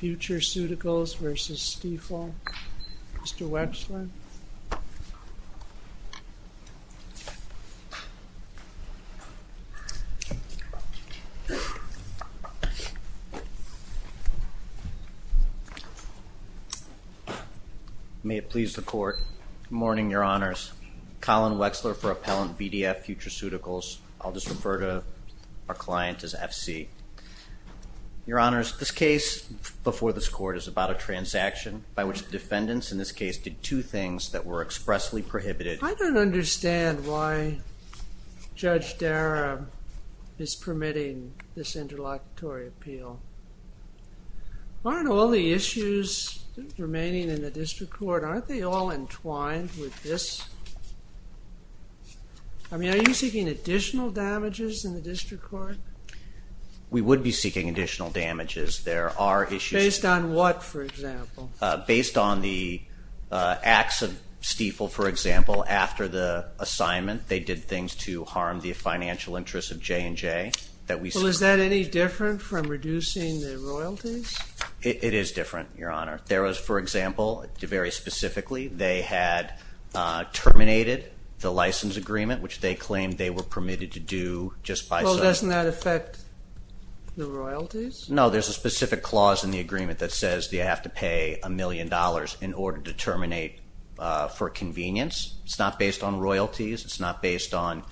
Futureceuticals v. Stiefel. Mr. Wechsler. May it please the Court. Good morning, Your Honors. Colin Wechsler for Appellant VDF Futureceuticals. I'll just refer to our Your Honors, this case before this Court is about a transaction by which the defendants in this case did two things that were expressly prohibited. I don't understand why Judge Dara is permitting this interlocutory appeal. Aren't all the issues remaining in the District Court, aren't they all entwined with this? I mean, are you seeking additional damages in the District Court? We would be seeking additional damages. There are issues... Based on what, for example? Based on the acts of Stiefel, for example. After the assignment, they did things to harm the financial interests of J&J. Well, is that any different from reducing the royalties? It is different, Your Honor. There was, for example, very specifically, they had terminated the license agreement, which they claimed they were permitted to do just by... Well, doesn't that affect the royalties? No, there's a specific clause in the agreement that says they have to pay a million dollars in order to terminate for convenience. It's not based on royalties. It's not based on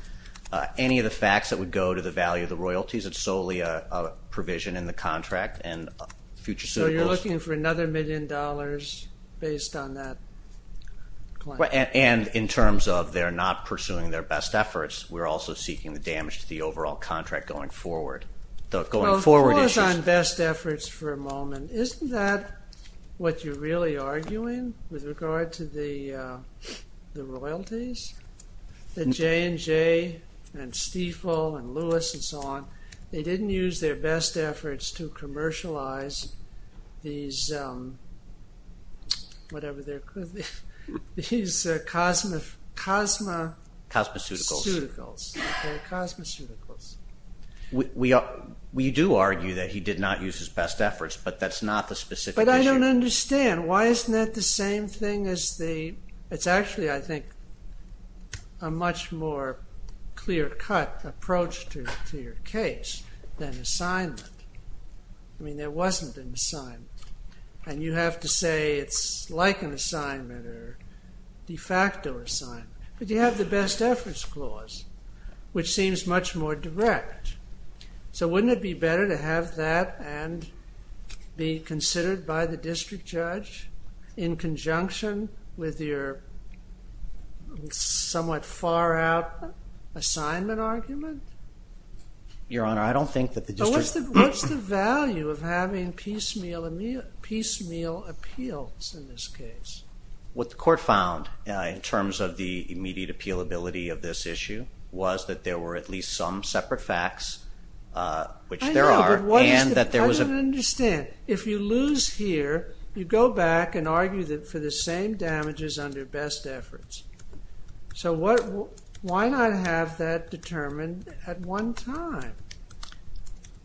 any of the facts that would go to the value of the royalties. It's solely a provision in the contract and Futureceuticals... So you're looking for another million dollars based on that claim? And in terms of they're not pursuing their best efforts, we're also seeking the damage to the overall contract going forward. The going forward issues... Well, pause on best efforts for a moment. Isn't that what you're really arguing with regard to the royalties? That J&J and Stiefel and Lewis and so on, they didn't use their best efforts to commercialize these, whatever they're called, these cosmeceuticals. We do argue that he did not use his best efforts, but that's not the specific issue. But I don't understand. Why isn't that the same thing as the... It's actually, I think, a much more clear-cut approach to your case than assignment. I mean, there wasn't an assignment. And you have to say it's like an assignment or de facto assignment. But you have the best efforts clause, which seems much more direct. So wouldn't it be better to have that and be considered by the district judge in conjunction with your somewhat far-out assignment argument? Your Honor, I don't think that the district... What's the value of having piecemeal appeals in this case? What the court found in terms of the immediate appealability of this issue was that there were at least some separate facts, which there are. I don't understand. If you lose here, you go back and argue for the same damages under best efforts. So why not have that determined at one time?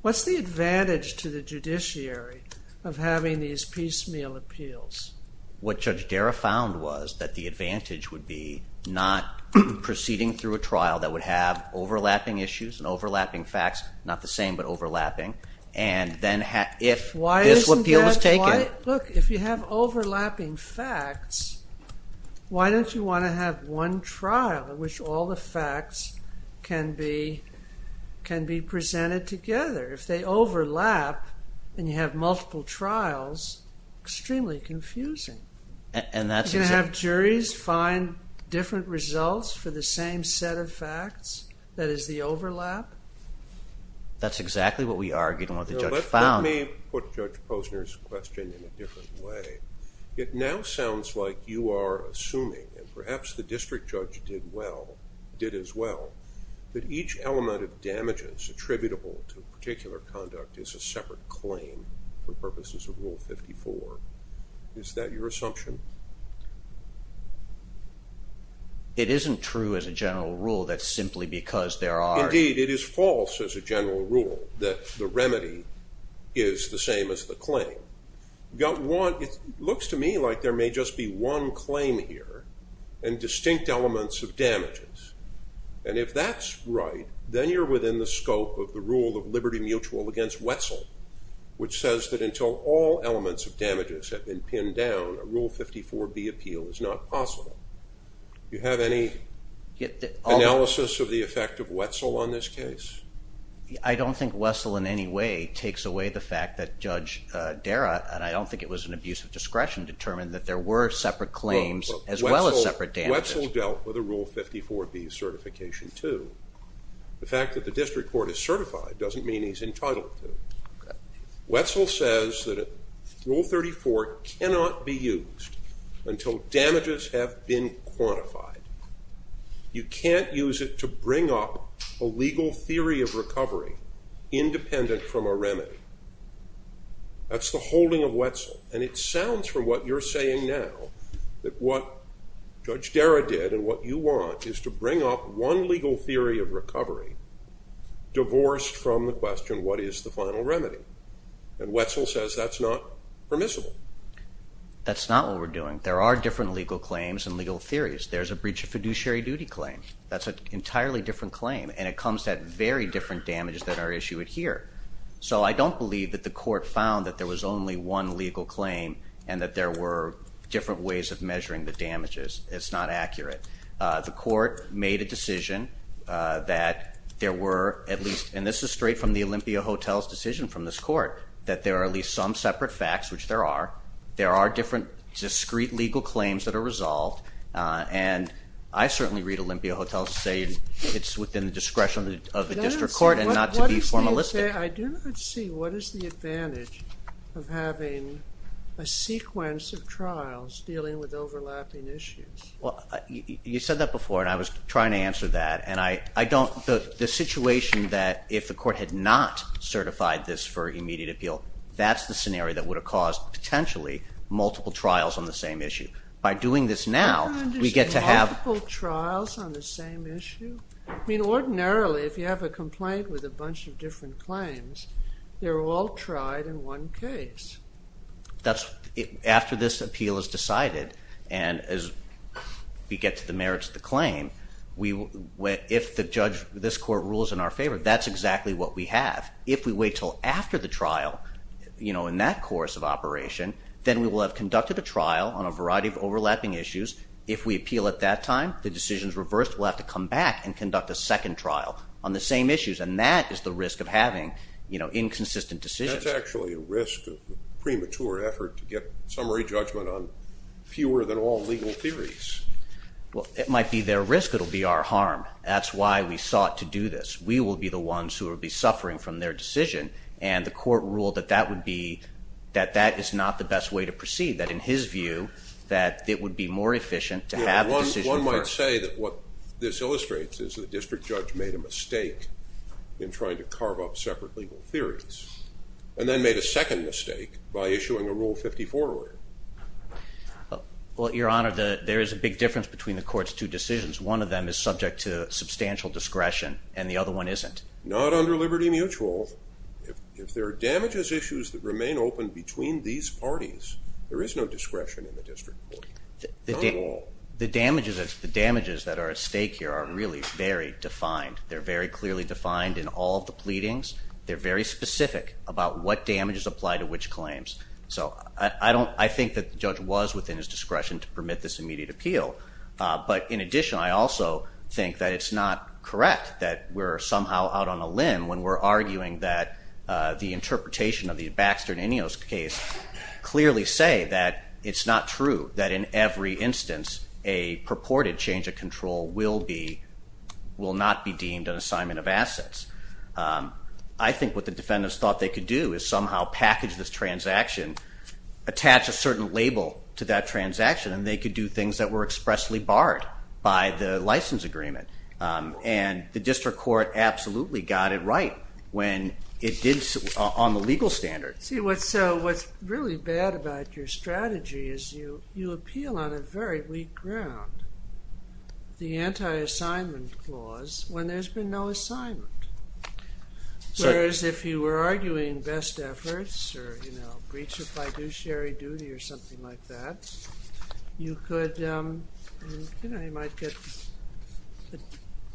What's the advantage to the judiciary of having these piecemeal appeals? What Judge Dara found was that the advantage would be not proceeding through a trial that would have overlapping issues and overlapping facts, not the same but overlapping. And then if this appeal was taken... Look, if you have overlapping facts, why don't you want to have one trial in which all the facts can be presented together? If they overlap and you have multiple trials, extremely confusing. You're going to have juries find different results for the same set of facts? That is the overlap? That's exactly what we argued and what the judge found. Let me put Judge Posner's question in a different way. It now sounds like you are assuming, and perhaps the district judge did as well, that each element of damages attributable to a particular conduct is a separate claim for purposes of Rule 54. Is that your assumption? It isn't true as a general rule that simply because there are... Indeed, it is false as a general rule that the remedy is the same as the claim. It looks to me like there may just be one claim here and distinct elements of damages. And if that's right, then you're within the scope of the rule of liberty mutual against Wetzel, which says that until all elements of damages have been pinned down, a Rule 54b appeal is not possible. Do you have any analysis of the effect of Wetzel on this case? I don't think Wetzel in any way takes away the fact that Judge Dara, and I don't think it was an abuse of discretion, determined that there were separate claims as well as separate damages. Wetzel dealt with a Rule 54b certification too. The fact that the district court is certified doesn't mean he's entitled to it. Wetzel says that Rule 34 cannot be used until damages have been quantified. You can't use it to bring up a legal theory of recovery independent from a remedy. That's the holding of Wetzel. And it sounds from what you're saying now that what Judge Dara did and what you want is to bring up one legal theory of recovery divorced from the question, what is the final remedy? And Wetzel says that's not permissible. That's not what we're doing. There are different legal claims and legal theories. There's a breach of fiduciary duty claim. That's an entirely different claim, and it comes at very different damages that are issued here. So I don't believe that the court found that there was only one legal claim and that there were different ways of measuring the damages. It's not accurate. The court made a decision that there were at least and this is straight from the Olympia Hotel's decision from this court, that there are at least some separate facts, which there are. There are different discrete legal claims that are resolved, and I certainly read Olympia Hotel's saying it's within the discretion of the district court and not to be formalistic. I do not see what is the advantage of having a sequence of trials dealing with overlapping issues. Well, you said that before, and I was trying to answer that, and the situation that if the court had not certified this for immediate appeal, that's the scenario that would have caused potentially multiple trials on the same issue. By doing this now, we get to have... Multiple trials on the same issue? I mean, ordinarily, if you have a complaint with a bunch of different claims, they're all tried in one case. After this appeal is decided, and as we get to the merits of the claim, if the judge, this court, rules in our favor, that's exactly what we have. If we wait until after the trial, you know, in that course of operation, then we will have conducted a trial on a variety of overlapping issues. If we appeal at that time, the decision is reversed. We'll have to come back and conduct a second trial on the same issues, and that is the risk of having inconsistent decisions. That's actually a risk, a premature effort to get summary judgment on fewer than all legal theories. Well, it might be their risk. It will be our harm. That's why we sought to do this. We will be the ones who will be suffering from their decision, and the court ruled that that is not the best way to proceed, that in his view, that it would be more efficient to have the decision first. I would say that what this illustrates is the district judge made a mistake in trying to carve up separate legal theories, and then made a second mistake by issuing a Rule 54 order. Well, Your Honor, there is a big difference between the court's two decisions. One of them is subject to substantial discretion, and the other one isn't. Not under Liberty Mutual. If there are damages issues that remain open between these parties, there is no discretion in the district court, not at all. The damages that are at stake here are really very defined. They're very clearly defined in all of the pleadings. They're very specific about what damages apply to which claims. So I think that the judge was within his discretion to permit this immediate appeal. But in addition, I also think that it's not correct that we're somehow out on a limb when we're arguing that the interpretation of the Baxter-Ninos case clearly say that it's not true, that in every instance a purported change of control will not be deemed an assignment of assets. I think what the defendants thought they could do is somehow package this transaction, attach a certain label to that transaction, and they could do things that were expressly barred by the license agreement. And the district court absolutely got it right on the legal standard. See, what's really bad about your strategy is you appeal on a very weak ground the anti-assignment clause when there's been no assignment. Whereas if you were arguing best efforts or breach of fiduciary duty or something like that, you might get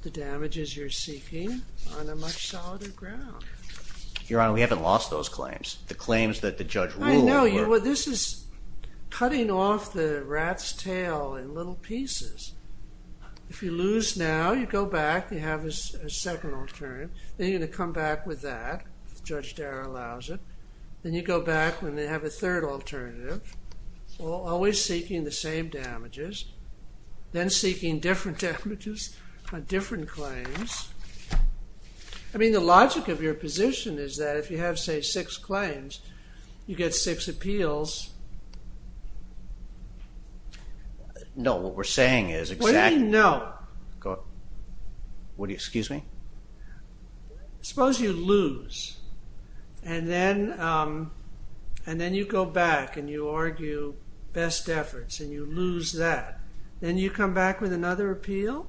the damages you're seeking on a much solider ground. Your Honor, we haven't lost those claims. The claims that the judge ruled were... I know. This is cutting off the rat's tail in little pieces. If you lose now, you go back, you have a second alternative. Then you're going to come back with that, if Judge Darrow allows it. Then you go back and have a third alternative, always seeking the same damages, then seeking different damages on different claims. I mean, the logic of your position is that if you have, say, six claims, you get six appeals. No, what we're saying is exactly... What do you mean, no? What do you... Excuse me? Suppose you lose, and then you go back and you argue best efforts, and you lose that. Then you come back with another appeal?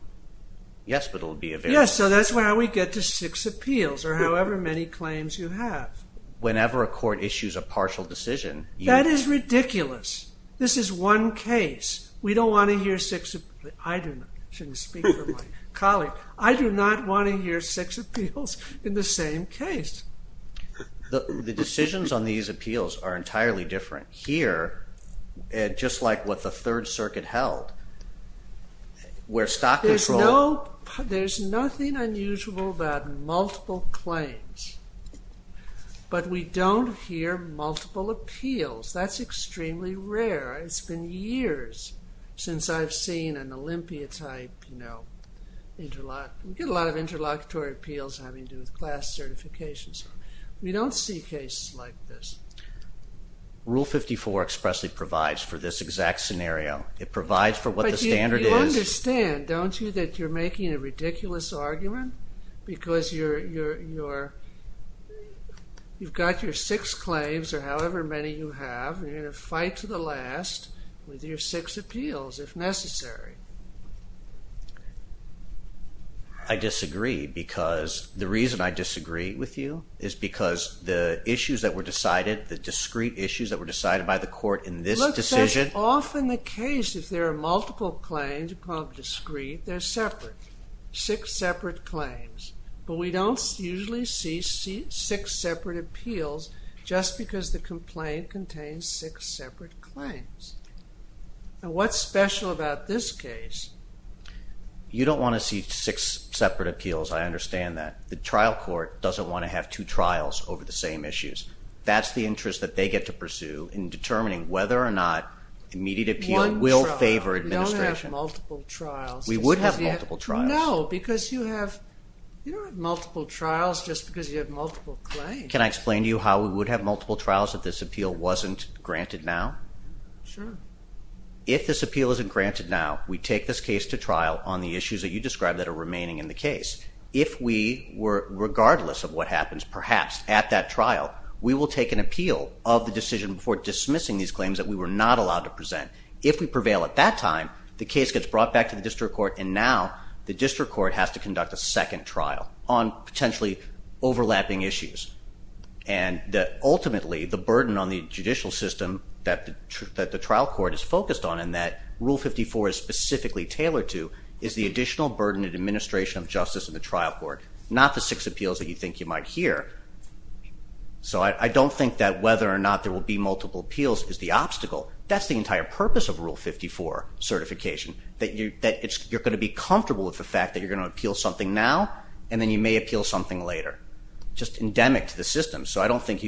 Yes, but it will be a variance. Yes, so that's how we get to six appeals, or however many claims you have. Whenever a court issues a partial decision, you... That is ridiculous. This is one case. We don't want to hear six... I do not. I shouldn't speak for my colleague. I do not want to hear six appeals in the same case. The decisions on these appeals are entirely different. We don't hear, just like what the Third Circuit held, where stock control... There's nothing unusual about multiple claims, but we don't hear multiple appeals. That's extremely rare. It's been years since I've seen an Olympia-type, you know... We get a lot of interlocutory appeals having to do with class certifications. We don't see cases like this. Rule 54 expressly provides for this exact scenario. It provides for what the standard is... But you understand, don't you, that you're making a ridiculous argument? Because you've got your six claims, or however many you have, and you're going to fight to the last with your six appeals, if necessary. I disagree, because the reason I disagree with you is because the issues that were decided, the discrete issues that were decided by the court in this decision... Look, that's often the case. If there are multiple claims, called discrete, they're separate. Six separate claims. But we don't usually see six separate appeals, just because the complaint contains six separate claims. Now, what's special about this case? You don't want to see six separate appeals. I understand that. The trial court doesn't want to have two trials over the same issues. That's the interest that they get to pursue in determining whether or not immediate appeal will favor administration. We don't have multiple trials. We would have multiple trials. No, because you have... You don't have multiple trials just because you have multiple claims. Can I explain to you how we would have multiple trials if this appeal wasn't granted now? Sure. If this appeal isn't granted now, we take this case to trial on the issues that you described that are remaining in the case. If we were... Regardless of what happens, perhaps, at that trial, we will take an appeal of the decision before dismissing these claims that we were not allowed to present. If we prevail at that time, the case gets brought back to the district court, and now the district court has to conduct a second trial on potentially overlapping issues. Ultimately, the burden on the judicial system that the trial court is focused on and that Rule 54 is specifically tailored to is the additional burden of administration of justice in the trial court, not the six appeals that you think you might hear. So I don't think that whether or not there will be multiple appeals is the obstacle. That's the entire purpose of Rule 54 certification, that you're going to be comfortable with the fact that you're going to appeal something now and then you may appeal something later, just endemic to the system. So I don't think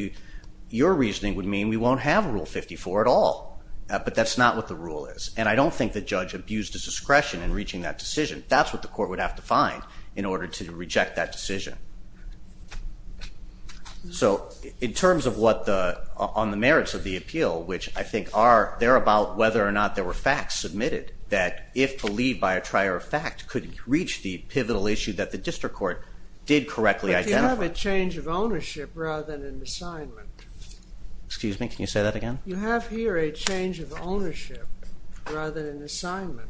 your reasoning would mean we won't have Rule 54 at all, but that's not what the rule is. And I don't think the judge abused his discretion in reaching that decision. That's what the court would have to find in order to reject that decision. So in terms of what the merits of the appeal, which I think are there about whether or not there were facts submitted that if believed by a trier of fact could reach the pivotal issue that the district court did correctly identify. But you have a change of ownership rather than an assignment. Excuse me, can you say that again? You have here a change of ownership rather than an assignment.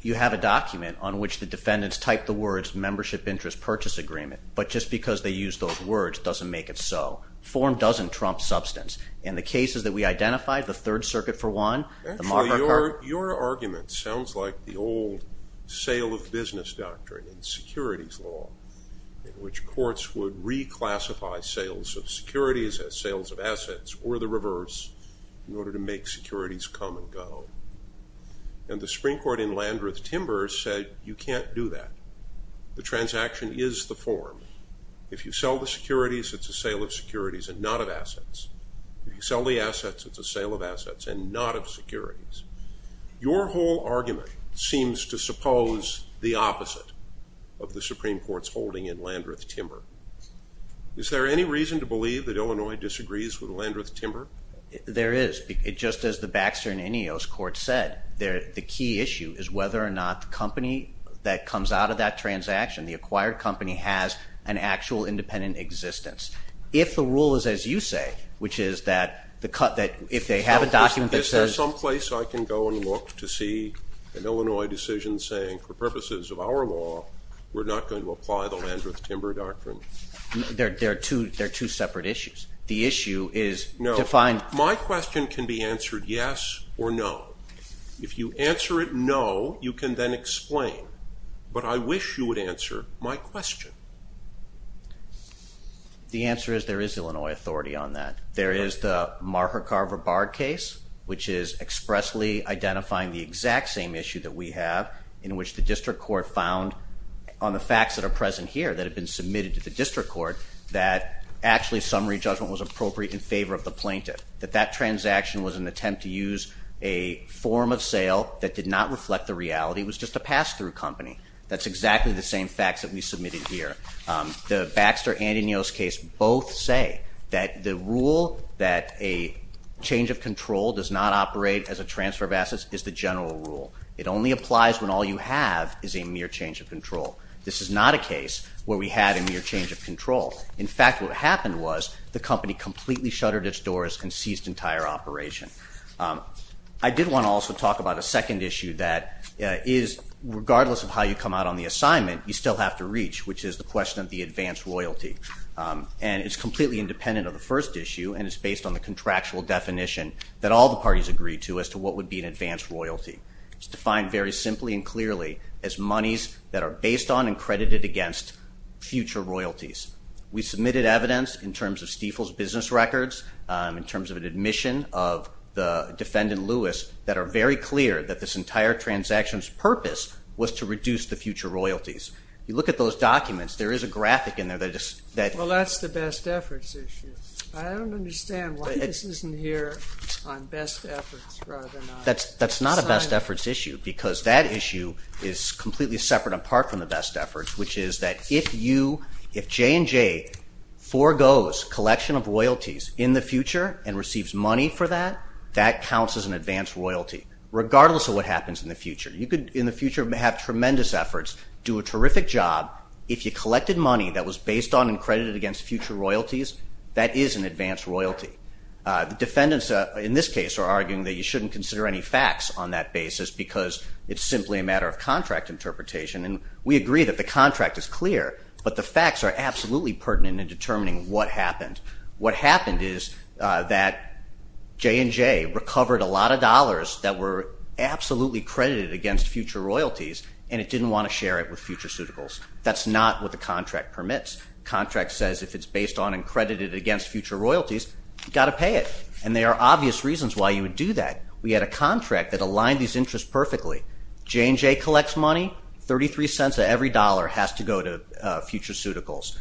You have a document on which the defendants typed the words membership interest purchase agreement, but just because they used those words doesn't make it so. Form doesn't trump substance. In the cases that we identified, the Third Circuit for one, the marker card. Actually, your argument sounds like the old sale of business doctrine and securities law in which courts would reclassify sales of securities as sales of assets or the reverse in order to make securities come and go. And the Supreme Court in Landreth-Timbers said you can't do that. The transaction is the form. If you sell the securities, it's a sale of securities and not of assets. If you sell the assets, it's a sale of assets and not of securities. Your whole argument seems to suppose the opposite of the Supreme Court's holding in Landreth-Timbers. Is there any reason to believe that Illinois disagrees with Landreth-Timbers? There is. Just as the Baxter and Ineos court said, the key issue is whether or not the company that comes out of that transaction, the acquired company, has an actual independent existence. If the rule is as you say, which is that if they have a document that says – Is there some place I can go and look to see an Illinois decision saying, for purposes of our law, we're not going to apply the Landreth-Timbers doctrine? There are two separate issues. The issue is to find – My question can be answered yes or no. If you answer it no, you can then explain. But I wish you would answer my question. The answer is there is Illinois authority on that. There is the Marha Carver Bard case, which is expressly identifying the exact same issue that we have in which the district court found on the facts that are present here that have been submitted to the district court that actually summary judgment was appropriate in favor of the plaintiff, that that transaction was an attempt to use a form of sale that did not reflect the reality. It was just a pass-through company. That's exactly the same facts that we submitted here. The Baxter and Ineos case both say that the rule that a change of control does not operate as a transfer of assets is the general rule. It only applies when all you have is a mere change of control. This is not a case where we had a mere change of control. In fact, what happened was the company completely shuttered its doors and seized entire operation. I did want to also talk about a second issue that is, regardless of how you come out on the assignment, you still have to reach, which is the question of the advanced royalty. And it's completely independent of the first issue, and it's based on the contractual definition that all the parties agreed to as to what would be an advanced royalty. It's defined very simply and clearly as monies that are based on and credited against future royalties. We submitted evidence in terms of Stiefel's business records, in terms of an admission of the defendant, Lewis, that are very clear that this entire transaction's purpose was to reduce the future royalties. You look at those documents. There is a graphic in there. Well, that's the best efforts issue. I don't understand why this isn't here on best efforts rather than on assignment. That's not a best efforts issue, because that issue is completely separate and apart from the best efforts, which is that if J&J foregoes collection of royalties in the future and receives money for that, that counts as an advanced royalty, regardless of what happens in the future. You could, in the future, have tremendous efforts, do a terrific job. If you collected money that was based on and credited against future royalties, that is an advanced royalty. The defendants, in this case, are arguing that you shouldn't consider any facts on that basis because it's simply a matter of contract interpretation, and we agree that the contract is clear, but the facts are absolutely pertinent in determining what happened. What happened is that J&J recovered a lot of dollars that were absolutely credited against future royalties, and it didn't want to share it with future suitables. That's not what the contract permits. The contract says if it's based on and credited against future royalties, you've got to pay it, and there are obvious reasons why you would do that. We had a contract that aligned these interests perfectly. J&J collects money, $0.33 of every dollar has to go to future suitables.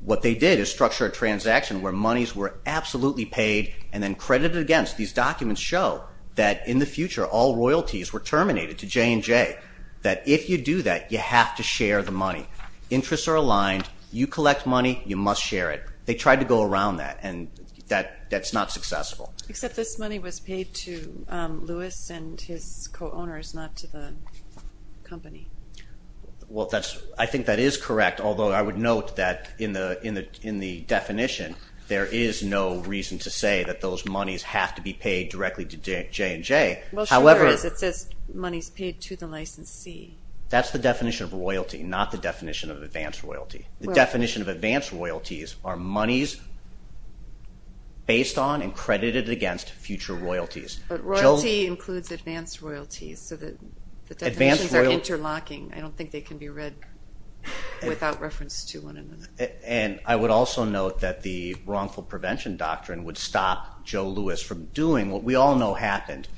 What they did is structure a transaction where monies were absolutely paid and then credited against. These documents show that in the future, all royalties were terminated to J&J, that if you do that, you have to share the money. Interests are aligned. You collect money, you must share it. They tried to go around that, and that's not successful. Except this money was paid to Lewis and his co-owners, not to the company. I think that is correct, although I would note that in the definition, there is no reason to say that those monies have to be paid directly to J&J. Well, sure there is. It says monies paid to the licensee. That's the definition of royalty, not the definition of advanced royalty. The definition of advanced royalties are monies based on and credited against future royalties. Royalty includes advanced royalties, so the definitions are interlocking. I don't think they can be read without reference to one another. I would also note that the wrongful prevention doctrine would stop Joe Lewis from doing what we all know happened.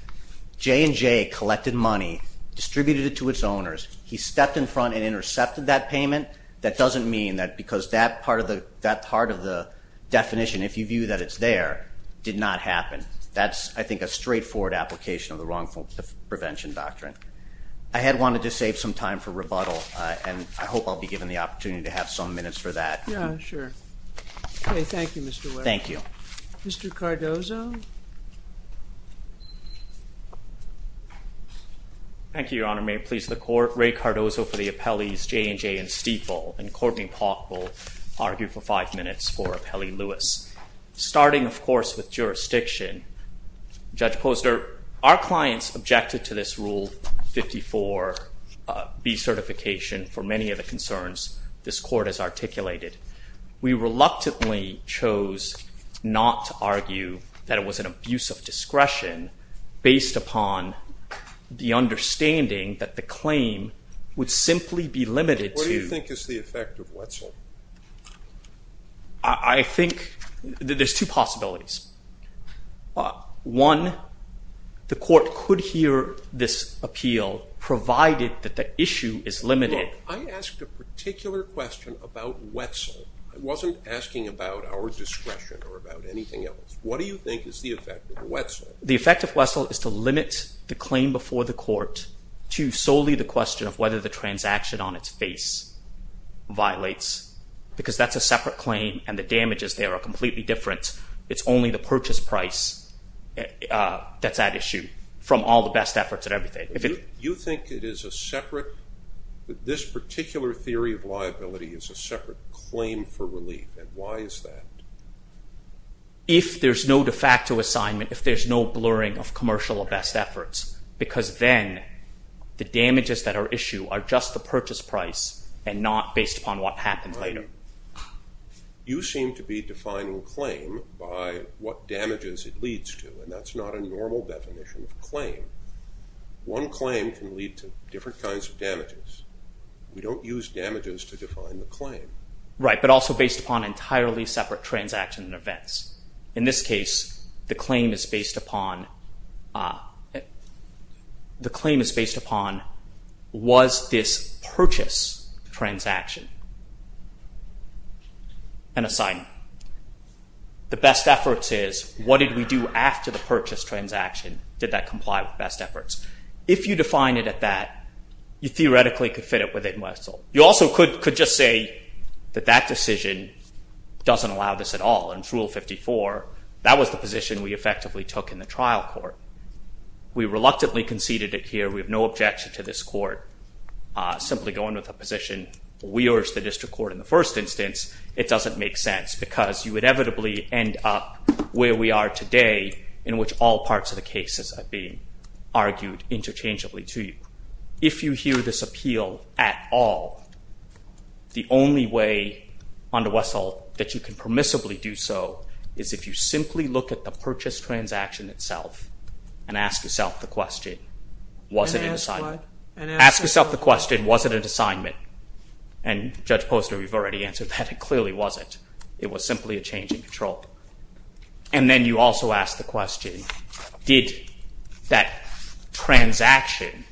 J&J collected money, distributed it to its owners. He stepped in front and intercepted that payment. That doesn't mean that because that part of the definition, if you view that it's there, did not happen. That's, I think, a straightforward application of the wrongful prevention doctrine. I had wanted to save some time for rebuttal, and I hope I'll be given the opportunity to have some minutes for that. Yeah, sure. Okay, thank you, Mr. Ware. Thank you. Mr. Cardozo? Thank you, Your Honor. May it please the Court. Ray Cardozo for the appellees J&J and Stiefel, and Courtney Paulk will argue for five minutes for appellee Lewis. Starting, of course, with jurisdiction, Judge Posner, our clients objected to this Rule 54B certification for many of the concerns this Court has articulated. We reluctantly chose not to argue that it was an abuse of discretion based upon the understanding that the claim would simply be limited to... What do you think is the effect of Wetzel? I think there's two possibilities. One, the Court could hear this appeal provided that the issue is limited. Look, I asked a particular question about Wetzel. I wasn't asking about our discretion or about anything else. What do you think is the effect of Wetzel? The effect of Wetzel is to limit the claim before the Court to solely the question of whether the transaction on its face violates, because that's a separate claim and the damages there are completely different. It's only the purchase price that's at issue from all the best efforts and everything. You think it is a separate... This particular theory of liability is a separate claim for relief. Why is that? If there's no de facto assignment, if there's no blurring of commercial or best efforts, because then the damages that are issued are just the purchase price and not based upon what happens later. You seem to be defining a claim by what damages it leads to, and that's not a normal definition of claim. One claim can lead to different kinds of damages. We don't use damages to define the claim. Right, but also based upon entirely separate transactions and events. In this case, the claim is based upon... The claim is based upon was this purchase transaction an assignment? The best efforts is what did we do after the purchase transaction? Did that comply with best efforts? If you define it at that, you theoretically could fit it within Wetzel. You also could just say that that decision doesn't allow this at all and it's Rule 54. That was the position we effectively took in the trial court. We reluctantly conceded it here. We have no objection to this court simply going with a position we urged the district court in the first instance. It doesn't make sense because you would inevitably end up where we are today in which all parts of the cases are being argued interchangeably to you. If you hear this appeal at all, the only way under Wetzel that you can permissibly do so is if you simply look at the purchase transaction itself and ask yourself the question, was it an assignment? Ask yourself the question, was it an assignment? Judge Poster, we've already answered that. It clearly wasn't. It was simply a change in control. Then you also ask the question, did that transaction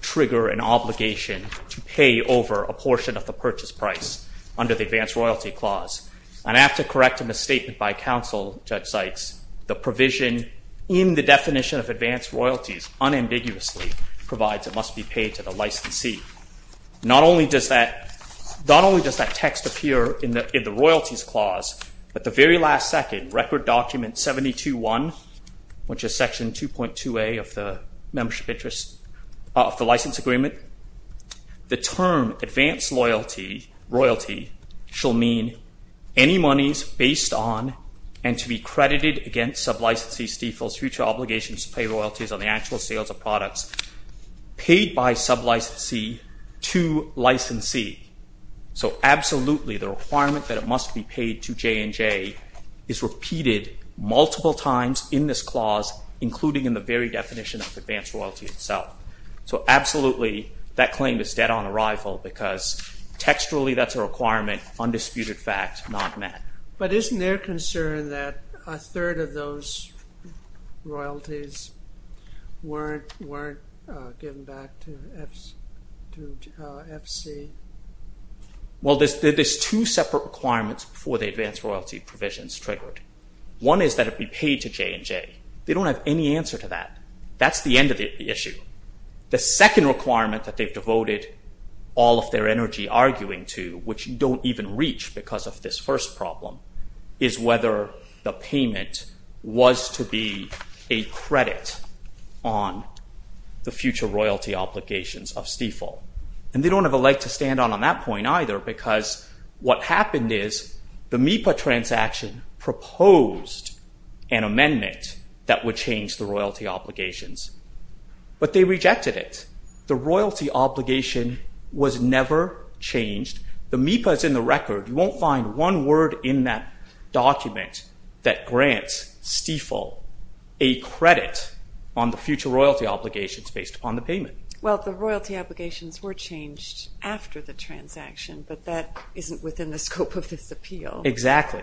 trigger an obligation to pay over a portion of the purchase price under the advanced royalty clause? And after correcting the statement by counsel, Judge Sykes, the provision in the definition of advanced royalties unambiguously provides it must be paid to the licensee. Not only does that text appear in the royalties clause, but the very last second, record document 72-1, which is section 2.2A of the membership interest, of the license agreement, the term advanced royalty shall mean any monies based on and to be credited against sub-licensees defaults future obligations to pay royalties on the actual sales of products paid by sub-licensee to licensee. So absolutely the requirement that it must be paid to J&J is repeated multiple times in this clause, including in the very definition of advanced royalty itself. So absolutely, that claim is dead on arrival because textually that's a requirement, undisputed fact, not met. But isn't there concern that a third of those royalties weren't given back to FC? Well, there's two separate requirements for the advanced royalty provisions triggered. One is that it be paid to J&J. They don't have any answer to that. That's the end of the issue. The second requirement that they've devoted all of their energy arguing to, which don't even reach because of this first problem, is whether the payment was to be a credit on the future royalty obligations of Stifel. And they don't have a leg to stand on on that point either because what happened is the MIPA transaction proposed an amendment that would change the royalty obligations. But they rejected it. The royalty obligation was never changed. The MIPA is in the record. You won't find one word in that document that grants Stifel a credit on the future royalty obligations based upon the payment. Well, the royalty obligations were changed after the transaction, but that isn't within the scope of this appeal. Exactly.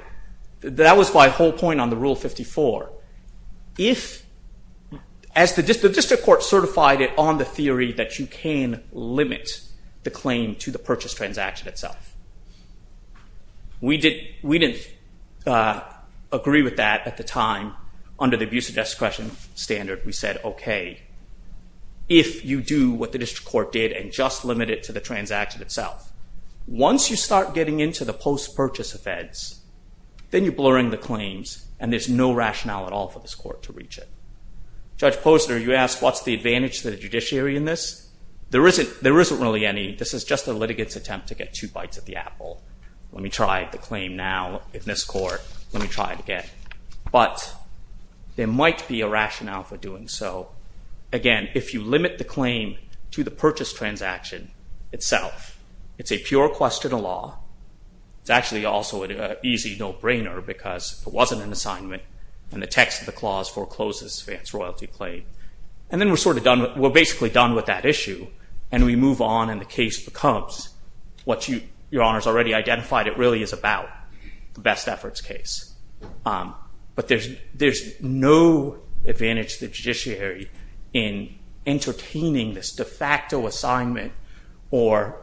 That was my whole point on the Rule 54. If, as the district court certified it on the theory that you can limit the claim to the purchase transaction itself. We didn't agree with that at the time. Under the abuse of discretion standard we said, okay, if you do what the district court did and just limit it to the transaction itself, once you start getting into the post-purchase offense, then you're blurring the claims and there's no rationale at all for this court to reach it. Judge Posner, you asked what's the advantage to the judiciary in this? There isn't really any. This is just a litigant's attempt to get two bites at the apple. Let me try the claim now in this court. Let me try it again. But, there might be a rationale for doing so. Again, if you limit the claim to the purchase transaction itself, it's a pure question of law. It's actually also an easy no-brainer because it wasn't an assignment and the text of the clause forecloses advance royalty claim. And then we're sort of done with, we're basically done with that issue and we move on and the case becomes what your Honor's already identified it really is about, the best efforts case. But there's no advantage to the judiciary in entertaining this de facto assignment or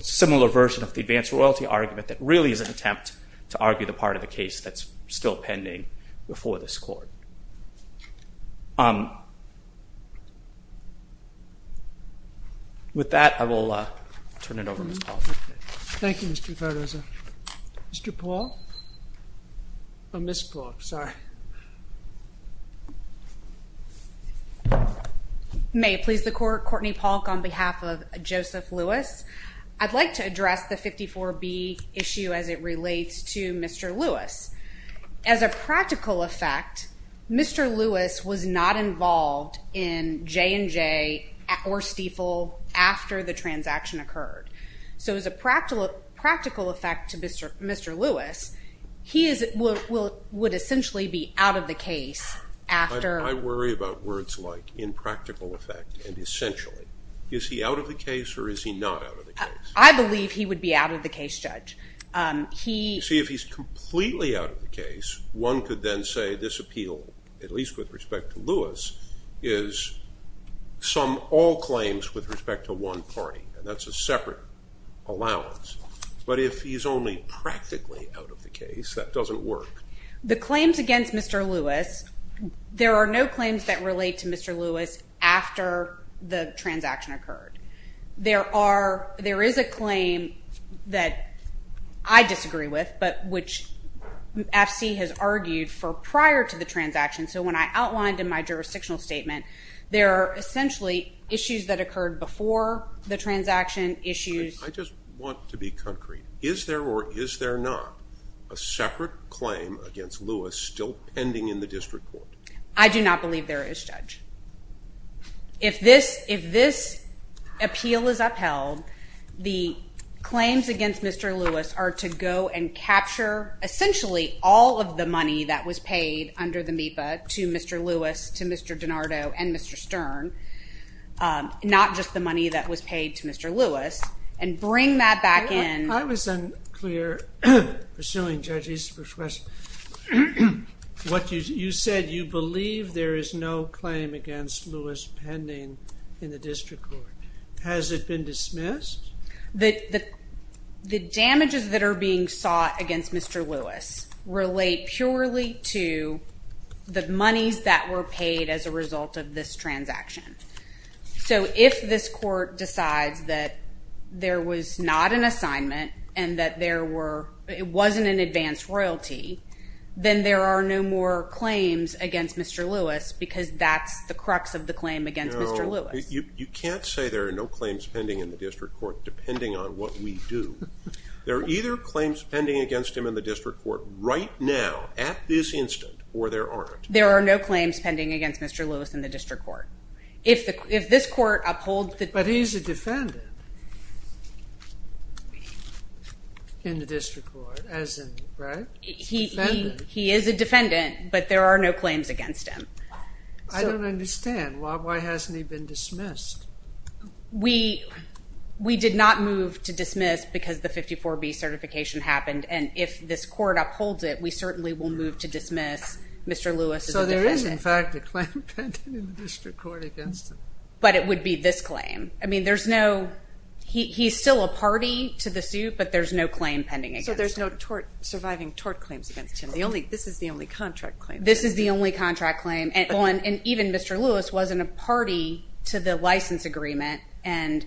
similar version of the advance royalty argument that really is an attempt to argue the part of the case that's still pending before this court. With that, I will turn it over to Ms. Paul. Thank you, Mr. Cardozo. Mr. Paul? Oh, Ms. Paul, sorry. May it please the Court, Courtney Polk on behalf of Joseph Lewis. I'd like to address the 54B issue as it relates to Mr. Lewis. As a practical effect, Mr. Lewis was not involved in J&J or Stiefel after the transaction occurred. So as a practical effect to Mr. Lewis, he would essentially be out of the case after... I worry about words like in practical effect and essentially. Is he out of the case or is he not out of the case? I believe he would be out of the case, Judge. See, if he's completely out of the case, one could then say this appeal, at least with respect to Lewis, is sum all claims with respect to one party, and that's a separate allowance. But if he's only practically out of the case, that doesn't work. The claims against Mr. Lewis, there are no claims that relate to Mr. Lewis after the transaction occurred. There are... There is a claim that I disagree with, but which FC has argued for prior to the transaction. So when I outlined in my jurisdictional statement, there are essentially issues that occurred before the transaction, issues... I just want to be concrete. Is there or is there not a separate claim against Lewis still pending in the district court? I do not believe there is, Judge. If this appeal is upheld, the claims against Mr. Lewis are to go and capture essentially all of the money that was paid under the MEPA to Mr. Lewis, to Mr. DiNardo, and Mr. Stern, not just the money that was paid to Mr. Lewis, and bring that back in... I was unclear pursuing Judge Easterbrook's question. You said you believe there is no claim against Lewis pending in the district court. Has it been dismissed? The damages that are being sought against Mr. Lewis relate purely to the monies that were paid as a result of this transaction. So if this court decides that there was not an assignment and that there were... then there are no more claims against Mr. Lewis because that's the crux of the claim against Mr. Lewis. No, you can't say there are no claims pending in the district court depending on what we do. There are either claims pending against him in the district court right now, at this instant, or there aren't. There are no claims pending against Mr. Lewis in the district court. If this court upholds... But he's a defendant in the district court, right? He is a defendant, but there are no claims against him. I don't understand. Why hasn't he been dismissed? We did not move to dismiss because the 54B certification happened, and if this court upholds it, we certainly will move to dismiss Mr. Lewis as a defendant. So there is, in fact, a claim pending in the district court against him. But it would be this claim. I mean, there's no... He's still a party to the suit, but there's no claim pending against him. So there's no surviving tort claims against him. This is the only contract claim. This is the only contract claim, and even Mr. Lewis was in a party to the license agreement, and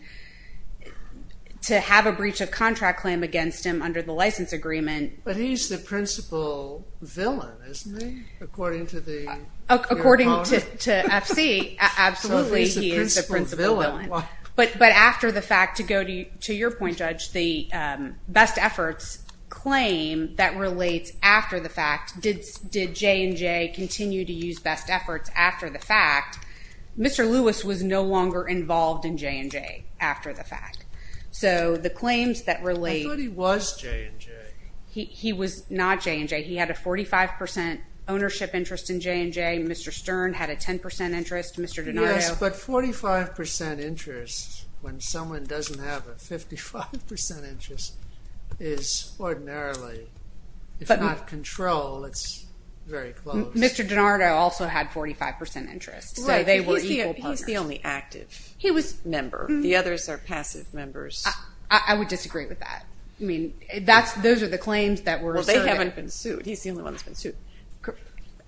to have a breach of contract claim against him under the license agreement... But he's the principal villain, isn't he? According to the... According to FC, absolutely he is the principal villain. But after the fact, to go to your point, Judge, the best efforts claim that relates after the fact, did J&J continue to use best efforts after the fact? Mr. Lewis was no longer involved in J&J after the fact. So the claims that relate... I thought he was J&J. He was not J&J. He had a 45% ownership interest in J&J. Mr. Stern had a 10% interest. Mr. Denario... Yes, but 45% interest when someone doesn't have a 55% interest is ordinarily... If not control, it's very close. Mr. Denario also had 45% interest. So they were equal partners. He's the only active member. The others are passive members. I would disagree with that. Those are the claims that were asserted. They haven't been sued. He's the only one that's been sued.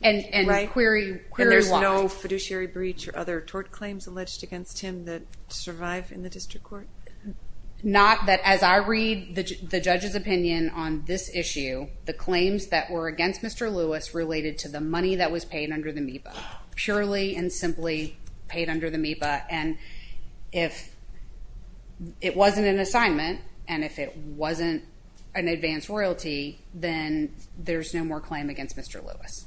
And query law. And there's no fiduciary breach or other to survive in the district court. Not that as I read the judge's opinion on this issue, the claims that were against Mr. Lewis related to the money that was paid under the MEPA. Purely and simply paid under the MEPA and if it wasn't an assignment and if it wasn't an advanced royalty, then there's no more claim against Mr. Lewis.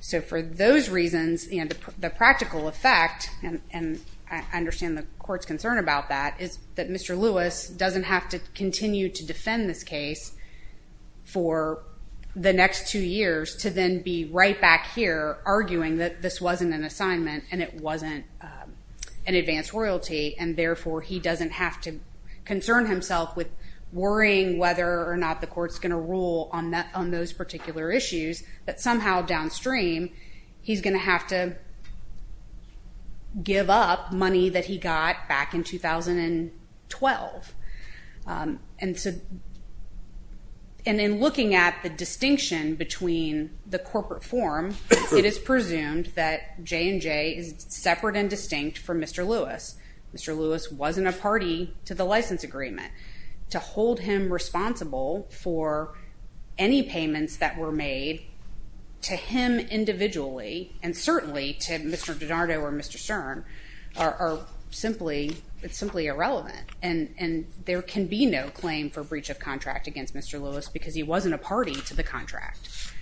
So for those reasons, the practical effect and I understand the court's concern about that, is that Mr. Lewis doesn't have to continue to defend this case for the next two years to then be right back here arguing that this wasn't an assignment and it wasn't an advanced royalty and therefore he doesn't have to concern himself with worrying whether or not the court's going to rule on those particular issues, that somehow downstream, he's going to have to give up money that he got back in 2012. And so and in looking at the distinction between the corporate form, it is presumed that J&J is separate and distinct from Mr. Lewis. Mr. Lewis wasn't a party to the license agreement. To hold him responsible for any payments that were made to him individually and certainly to Mr. DiNardo or Mr. Stern are simply irrelevant and there can be no claim for breach of contract against Mr. Lewis because he wasn't a party to the contract.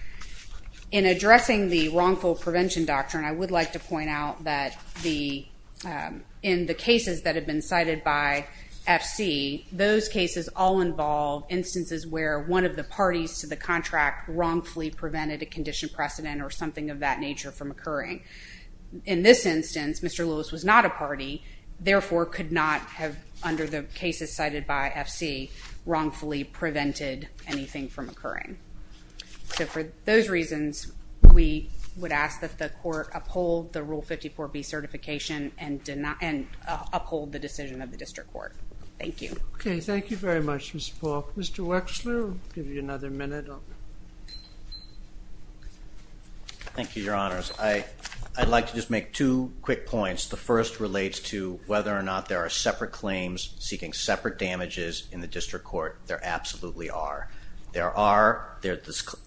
In addressing the wrongful prevention doctrine, I would like to point out that in the cases that have been cited by FC, those cases all involve instances where one of the parties to the contract wrongfully prevented a condition precedent or something of that nature from occurring. In this instance, Mr. Lewis was not a party, therefore could not have, under the cases cited by FC, wrongfully prevented anything from occurring. So for those reasons, we would ask that the court uphold the Rule 54B certification and uphold the decision of the district court. Thank you. Okay, thank you very much, Mr. Paul. Mr. Wechsler, I'll give you another minute. Thank you, Your Honors. I'd like to just make two quick points. The first relates to whether or not there are separate claims seeking separate damages in the district court. There absolutely are. There are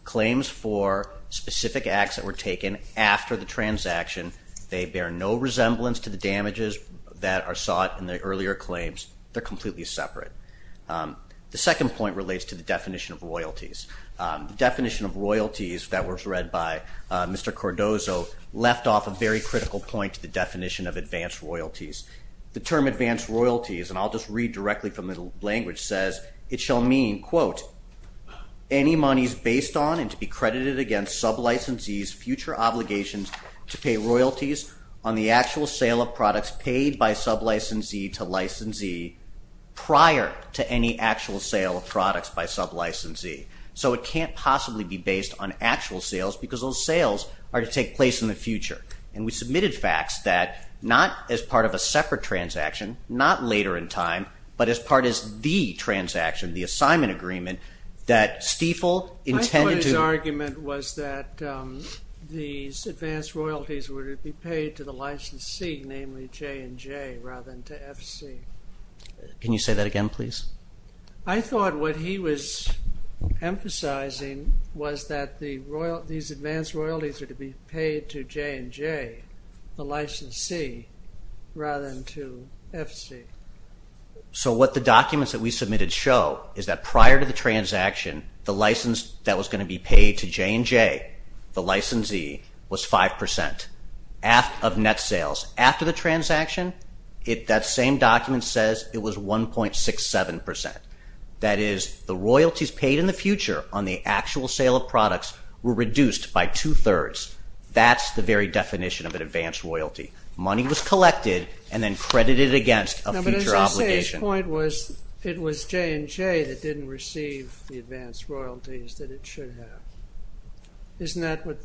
claims for specific acts that were taken after the transaction. They bear no resemblance to the damages that are sought in the earlier claims. They're completely separate. The second point relates to the definition of royalties. The definition of royalties that was read by Mr. Cordozo left off a very critical point to the definition of advanced royalties. The term advanced royalties, and I'll just read directly from the language, says it shall mean quote, any monies based on and to be credited against sub-licensees' future obligations to pay royalties on the actual sale of products paid by sub-licensee to licensee prior to any actual sale of products by sub-licensee. So it can't possibly be based on actual sales because those sales are to take place in the future. We submitted facts that not as part of a separate transaction, not later in time, but as part of the transaction, the assignment agreement that Stiefel intended to... I thought his argument was that these advanced royalties were to be paid to the licensee, namely J&J, rather than to FC. Can you say that again, please? I thought what he was emphasizing was that these advanced royalties were to be paid to J&J, the licensee, rather than to FC. So what the documents that we submitted show is that prior to the transaction the license that was going to be paid to J&J, the licensee, was five percent of net sales. After the transaction, that same document says it was 1.67 percent. That is, the royalties paid in the future on the actual sale of products were reduced by two-thirds. That's the very definition of an advanced royalty. Money was collected and then credited against a future obligation. But as you say, his point was it was J&J that didn't receive the advanced royalties that it should have. Isn't that what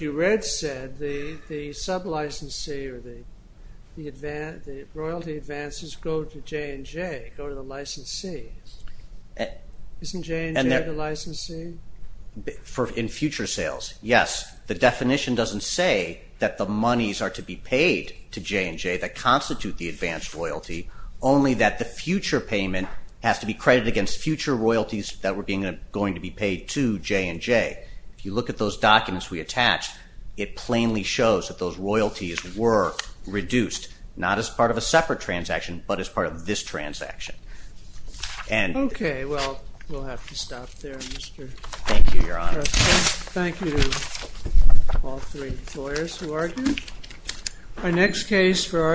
you read said? The sub-licensee or the royalty advances go to J&J, go to the licensees. Isn't J&J the licensee? In future sales, yes. The definition doesn't say that the monies are to be paid to J&J that constitute the advanced royalty, only that the future payment has to be credited against future royalties that were going to be paid to J&J. If you look at those documents we attached, it plainly shows that those royalties were reduced, not as part of a separate transaction, but as part of this transaction. Okay, well, we'll have to stop there. Thank you, Your Honor. Thank you to all three lawyers who argued. Our next case for argument